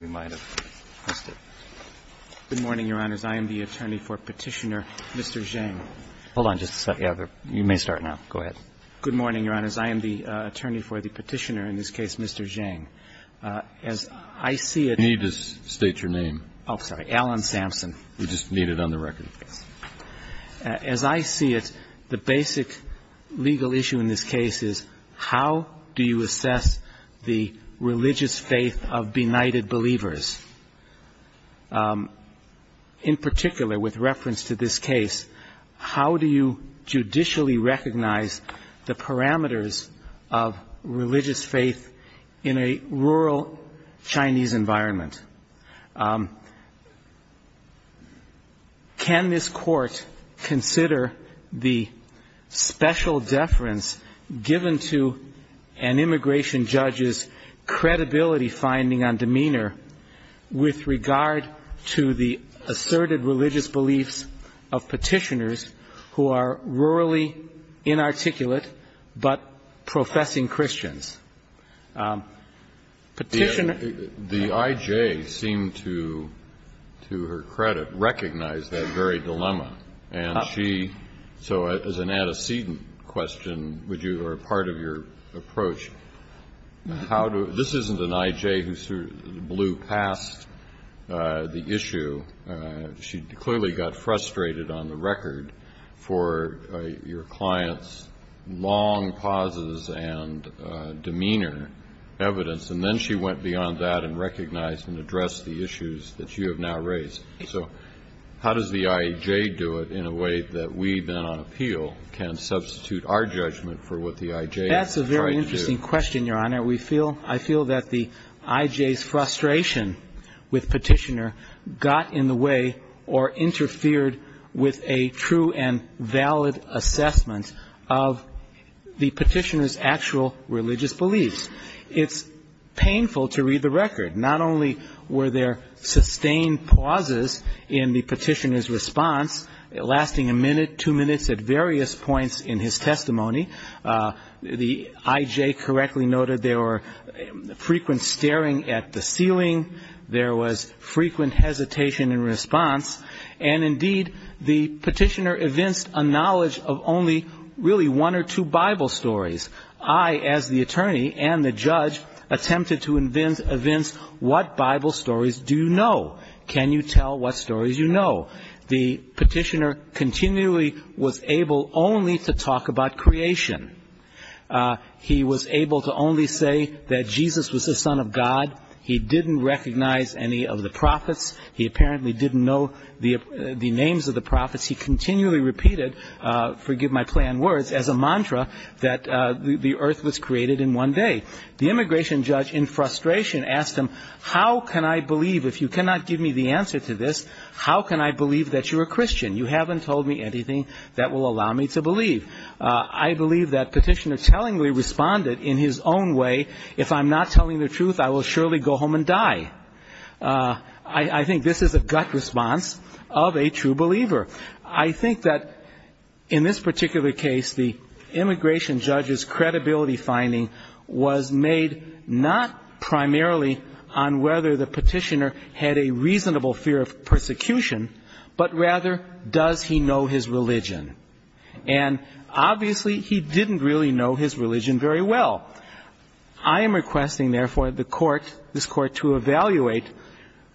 Good morning, Your Honors. I am the attorney for Petitioner, Mr. Zheng. Hold on just a second. You may start now. Go ahead. Good morning, Your Honors. I am the attorney for the Petitioner, in this case, Mr. Zheng. As I see it... You need to state your name. Oh, sorry. Alan Sampson. We just need it on the record. As I see it, the basic legal issue in this case is, how do you assess the religious faith of benighted believers? In particular, with reference to this case, how do you judicially recognize the parameters of religious faith in a rural Chinese environment? Can this Court consider the special deference given to an immigration judge's credibility finding on demeanor with regard to the asserted religious beliefs of petitioners who are rurally inarticulate but professing Christians? Petitioner... The I.J. seemed to, to her credit, recognize that very dilemma. And she, so as an antecedent question, would you, or part of your approach, how do, this isn't an I.J. who blew past the issue. She clearly got frustrated on the record for your client's long pauses and demeanor evidence. And then she went beyond that and recognized and addressed the issues that you have now raised. So how does the I.J. do it in a way that we, then, on appeal, can substitute our judgment for what the I.J. is trying to do? That's a very interesting question, Your Honor. I feel that the I.J.'s frustration with petitioner got in the way or interfered with a true and valid assessment of the petitioner's actual religious beliefs. It's painful to read the record. Not only were there sustained pauses in the petitioner's response, lasting a minute, two minutes at various points in his testimony. The I.J. correctly noted there were frequent staring at the ceiling. There was frequent hesitation in response. And indeed, the petitioner evinced a knowledge of only really one or two Bible stories. I, as the attorney and the judge, attempted to evince what Bible stories do you know? Can you tell what stories you know? The petitioner continually was able only to talk about creation. He was able to only say that Jesus was the Son of God. He didn't recognize any of the prophets. He apparently didn't know the names of the prophets. He continually repeated, forgive my plain words, as a mantra that the earth was created in one day. The immigration judge, in frustration, asked him, how can I believe? If you cannot give me the answer to this, how can I believe that you're a Christian? You haven't told me anything that will allow me to believe. I believe that petitioner tellingly responded in his own way, if I'm not telling the truth, I will surely go home and die. I think this is a gut response of a true believer. I think that in this particular case, the immigration judge's credibility finding was made not primarily on whether the petitioner had a reasonable fear of persecution, but rather, does he know his religion? And obviously, he didn't really know his religion very well. I am requesting, therefore, the court, this court, to evaluate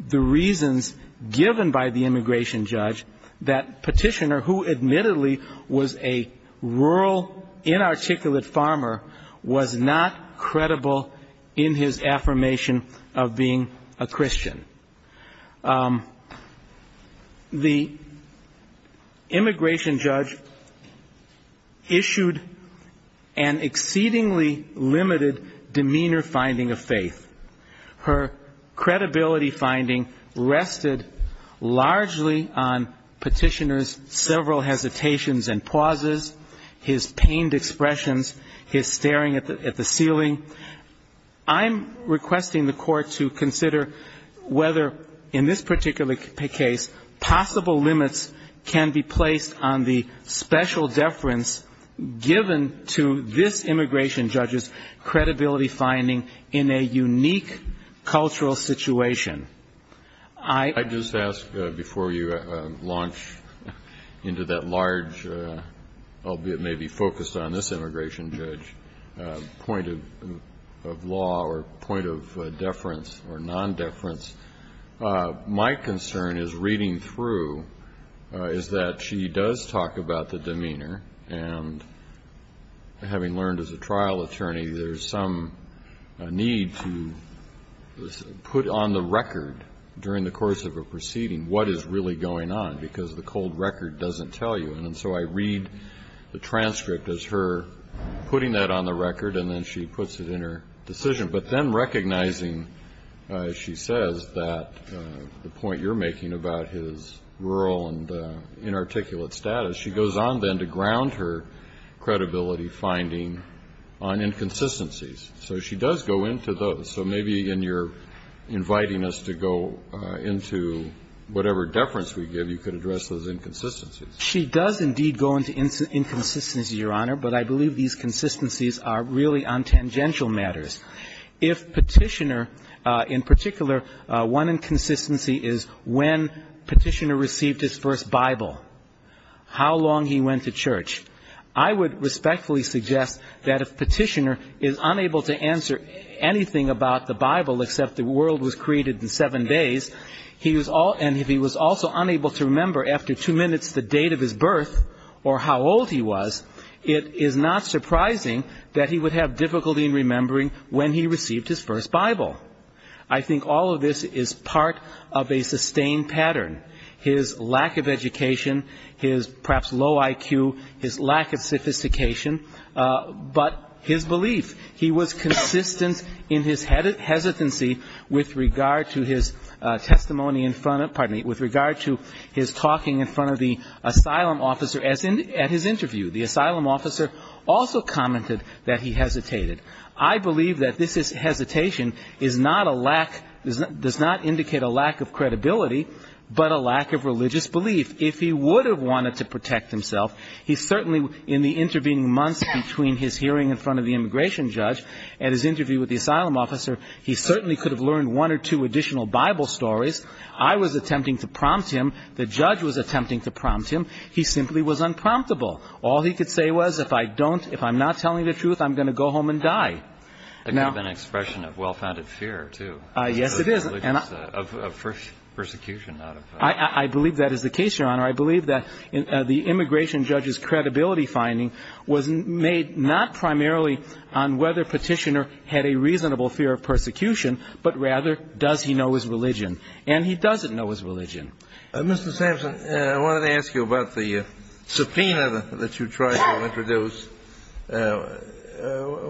the reasons given by the immigration judge that petitioner, who admittedly was a rural, inarticulate farmer, was not credible in his affirmation of being a Christian. The immigration judge issued an exceedingly limited demeanor finding of faith. Her credibility finding rested largely on petitioner's several hesitations and pauses, his pained expressions, his staring at the ceiling. I'm requesting the court to consider whether, in this particular case, possible limits can be placed on the special deference given to this immigration judge's credibility finding in a unique cultural situation. I just ask, before you launch into that large, albeit maybe focused on this immigration judge, point of law or point of deference or non-deference, my concern as reading through is that she does talk about the demeanor, and having learned as a trial attorney, there's some need to put on the record during the course of a proceeding what is really going on, because the cold record doesn't tell you. And so I read the transcript as her putting that on the record, and then she puts it in her decision. But then recognizing, as she says, that the point you're making about his rural and inarticulate status, she goes on then to ground her credibility finding on inconsistencies. So she does go into those. So maybe in your inviting us to go into whatever deference we give, you could address those inconsistencies. She does indeed go into inconsistencies, Your Honor, but I believe these consistencies are really on tangential matters. If Petitioner, in particular, one inconsistency is when Petitioner received his first Bible, how long he went to church. I would respectfully suggest that if Petitioner is unable to answer anything about the Bible except the world was created in seven days, and if he was also unable to remember after two minutes the date of his birth or how old he was, it is not surprising that he would have difficulty in remembering when he received his first Bible. I think all of this is part of a sustained pattern. His lack of education, his perhaps low IQ, his lack of sophistication, but his belief. He was consistent in his hesitancy with regard to his testimony in front of, pardon me, with regard to his talking in front of the asylum officer at his interview. The asylum officer also commented that he hesitated. I believe that this hesitation is not a lack, does not indicate a lack of credibility, but a lack of religious belief. If he would have wanted to protect himself, he certainly, in the intervening months between his hearing in front of the immigration judge and his interview with the asylum officer, he certainly could have learned one or two additional Bible stories. I was attempting to prompt him. The judge was attempting to prompt him. He simply was unpromptable. All he could say was, if I don't, if I'm not telling the truth, I'm going to go home and die. That could have been an expression of well-founded fear, too. Yes, it is. Of persecution. I believe that is the case, Your Honor. I believe that the immigration judge's credibility finding was made not primarily on whether Petitioner had a reasonable fear of persecution, but rather does he know his religion. And he doesn't know his religion. Mr. Sampson, I wanted to ask you about the subpoena that you tried to introduce.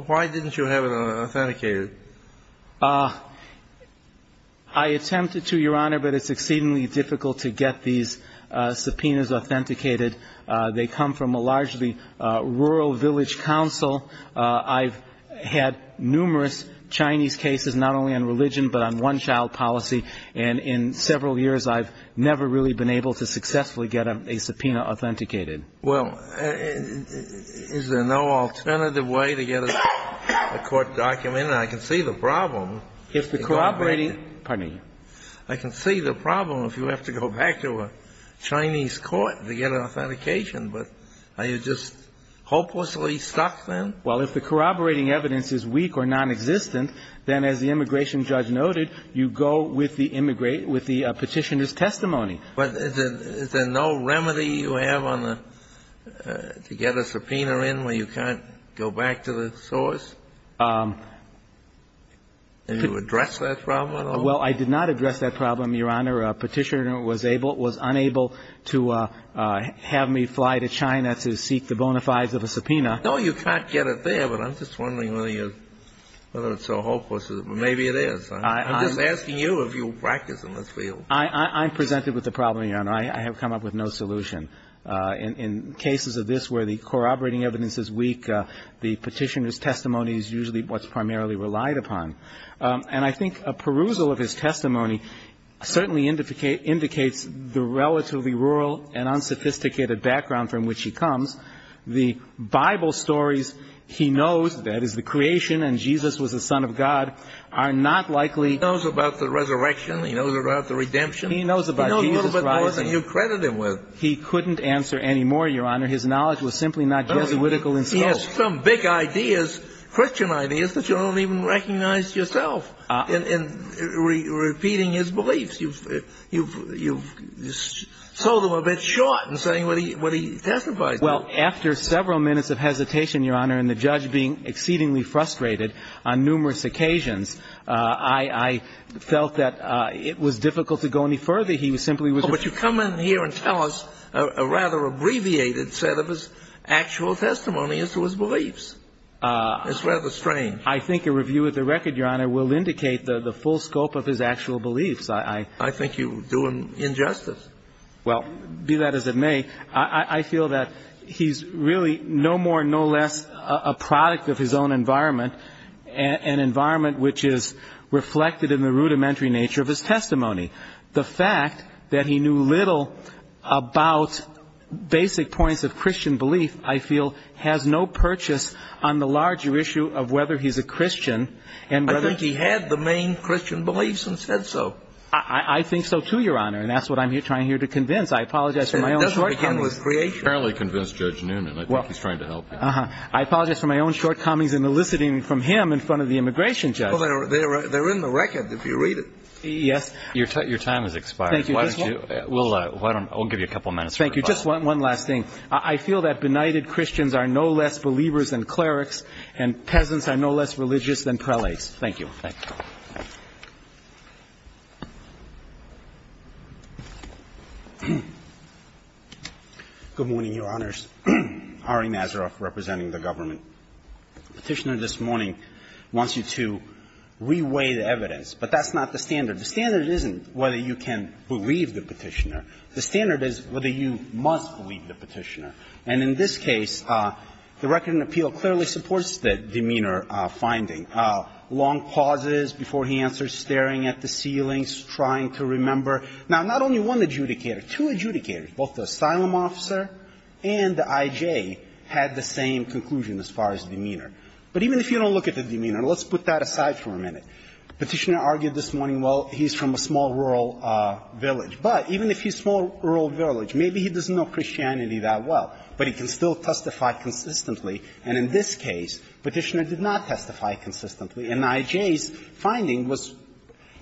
Why didn't you have it authenticated? I attempted to, Your Honor, but it's exceedingly difficult to get these subpoenas authenticated. They come from a largely rural village council. I've had numerous Chinese cases, not only on religion, but on one-child policy. And in several years, I've never really been able to successfully get a subpoena authenticated. Well, is there no alternative way to get a court document? I can see the problem. If the corroborating ---- Pardon me. I can see the problem if you have to go back to a Chinese court to get an authentication. But are you just hopelessly stuck then? Well, if the corroborating evidence is weak or nonexistent, then as the immigration judge noted, you go with the petitioner's testimony. But is there no remedy you have on the ---- to get a subpoena in where you can't go back to the source? Did you address that problem at all? Well, I did not address that problem, Your Honor. I'm just wondering whether a petitioner was able or was unable to have me fly to China to seek the bona fides of a subpoena. No, you can't get it there, but I'm just wondering whether you're ---- whether it's so hopeless. Maybe it is. I'm just asking you if you'll practice in this field. I'm presented with the problem, Your Honor. I have come up with no solution. In cases of this where the corroborating evidence is weak, the petitioner's testimony is usually what's primarily relied upon. And I think a perusal of his testimony certainly indicates the relatively rural and unsophisticated background from which he comes. The Bible stories he knows, that is, the creation and Jesus was the Son of God, are not likely ---- He knows about the resurrection. He knows about the redemption. He knows about Jesus rising. He knows a little bit more than you credit him with. He couldn't answer any more, Your Honor. His knowledge was simply not Jesuitical in scope. There's some big ideas, Christian ideas, that you don't even recognize yourself in repeating his beliefs. You've sold him a bit short in saying what he testifies to. Well, after several minutes of hesitation, Your Honor, and the judge being exceedingly frustrated on numerous occasions, I felt that it was difficult to go any further. He simply was ---- But you come in here and tell us a rather abbreviated set of his actual testimony as to his beliefs. It's rather strange. I think a review of the record, Your Honor, will indicate the full scope of his actual beliefs. I think you do him injustice. Well, do that as it may. I feel that he's really no more, no less a product of his own environment, an environment which is reflected in the rudimentary nature of his testimony. The fact that he knew little about basic points of Christian belief, I feel, has no purchase on the larger issue of whether he's a Christian and whether ---- I think he had the main Christian beliefs and said so. I think so, too, Your Honor, and that's what I'm trying here to convince. I apologize for my own shortcomings. It doesn't begin with creation. Apparently convince Judge Newman. I think he's trying to help you. I apologize for my own shortcomings in eliciting from him in front of the immigration judge. Well, they're in the record if you read it. Yes. Your time has expired. Thank you. I'll give you a couple minutes. Thank you. Just one last thing. I feel that benighted Christians are no less believers than clerics and peasants are no less religious than prelates. Thank you. Thank you. Good morning, Your Honors. Ari Nazaroff representing the government. Petitioner this morning wants you to reweigh the evidence, but that's not the standard. The standard isn't whether you can believe the Petitioner. The standard is whether you must believe the Petitioner. And in this case, the record in appeal clearly supports the demeanor finding. Long pauses before he answers, staring at the ceilings, trying to remember. Now, not only one adjudicator, two adjudicators, both the asylum officer and the I.J. had the same conclusion as far as demeanor. But even if you don't look at the demeanor, let's put that aside for a minute. Petitioner argued this morning, well, he's from a small rural village. But even if he's from a small rural village, maybe he doesn't know Christianity that well, but he can still testify consistently. And in this case, Petitioner did not testify consistently, and I.J.'s finding was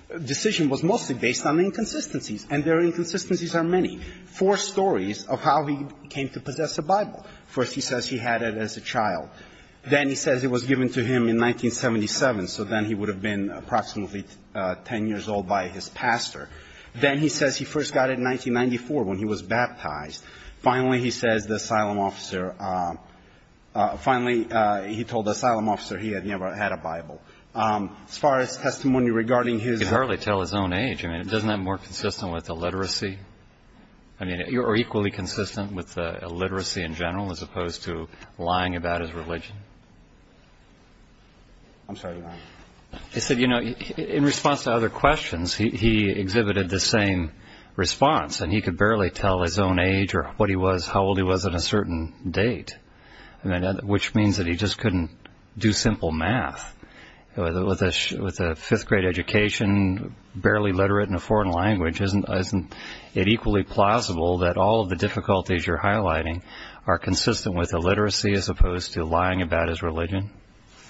the decision was mostly based on inconsistencies, and there are inconsistencies on many. Four stories of how he came to possess a Bible. First, he says he had it as a child. Then he says it was given to him in 1977, so then he would have been approximately 10 years old by his pastor. Then he says he first got it in 1994 when he was baptized. Finally, he says the asylum officer – finally, he told the asylum officer he had never had a Bible. As far as testimony regarding his own age, I mean, isn't that more consistent with illiteracy? I mean, are you equally consistent with illiteracy in general as opposed to lying about his religion? I'm sorry, Your Honor. He said, you know, in response to other questions, he exhibited the same response, and he could barely tell his own age or what he was, how old he was at a certain date, which means that he just couldn't do simple math. With a fifth-grade education, barely literate in a foreign language, isn't it equally plausible that all of the difficulties you're highlighting are consistent with illiteracy as opposed to lying about his religion?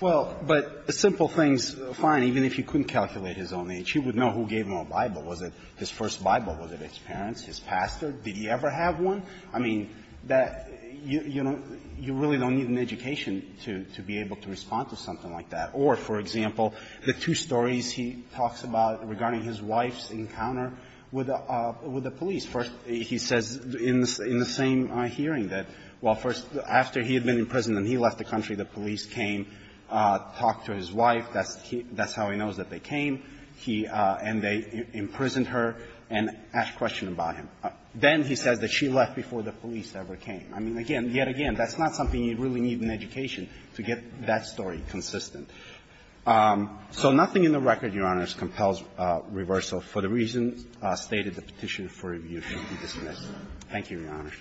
Well, but simple things – fine, even if you couldn't calculate his own age, you would know who gave him a Bible. Was it his first Bible? Was it his parents? His pastor? Did he ever have one? I mean, you really don't need an education to be able to respond to something like that. Or, for example, the two stories he talks about regarding his wife's encounter with the police. First, he says in the same hearing that, well, first, after he had been imprisoned and he left the country, the police came, talked to his wife. That's how he knows that they came, and they imprisoned her and asked questions about him. Then he says that she left before the police ever came. I mean, again, yet again, that's not something you really need in education to get that story consistent. So nothing in the record, Your Honors, compels reversal for the reasons stated in the Petition for Review to be dismissed. Thank you, Your Honor.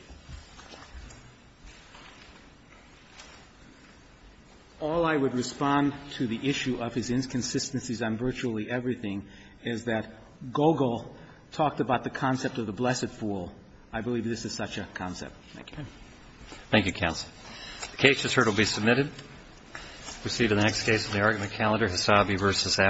All I would respond to the issue of his inconsistencies on virtually everything is that Gogol talked about the concept of the blessed fool. I believe this is such a concept. Thank you. Thank you, counsel. The case is heard and will be submitted. Proceed to the next case in the argument calendar, Hasabi v. Ashcroft.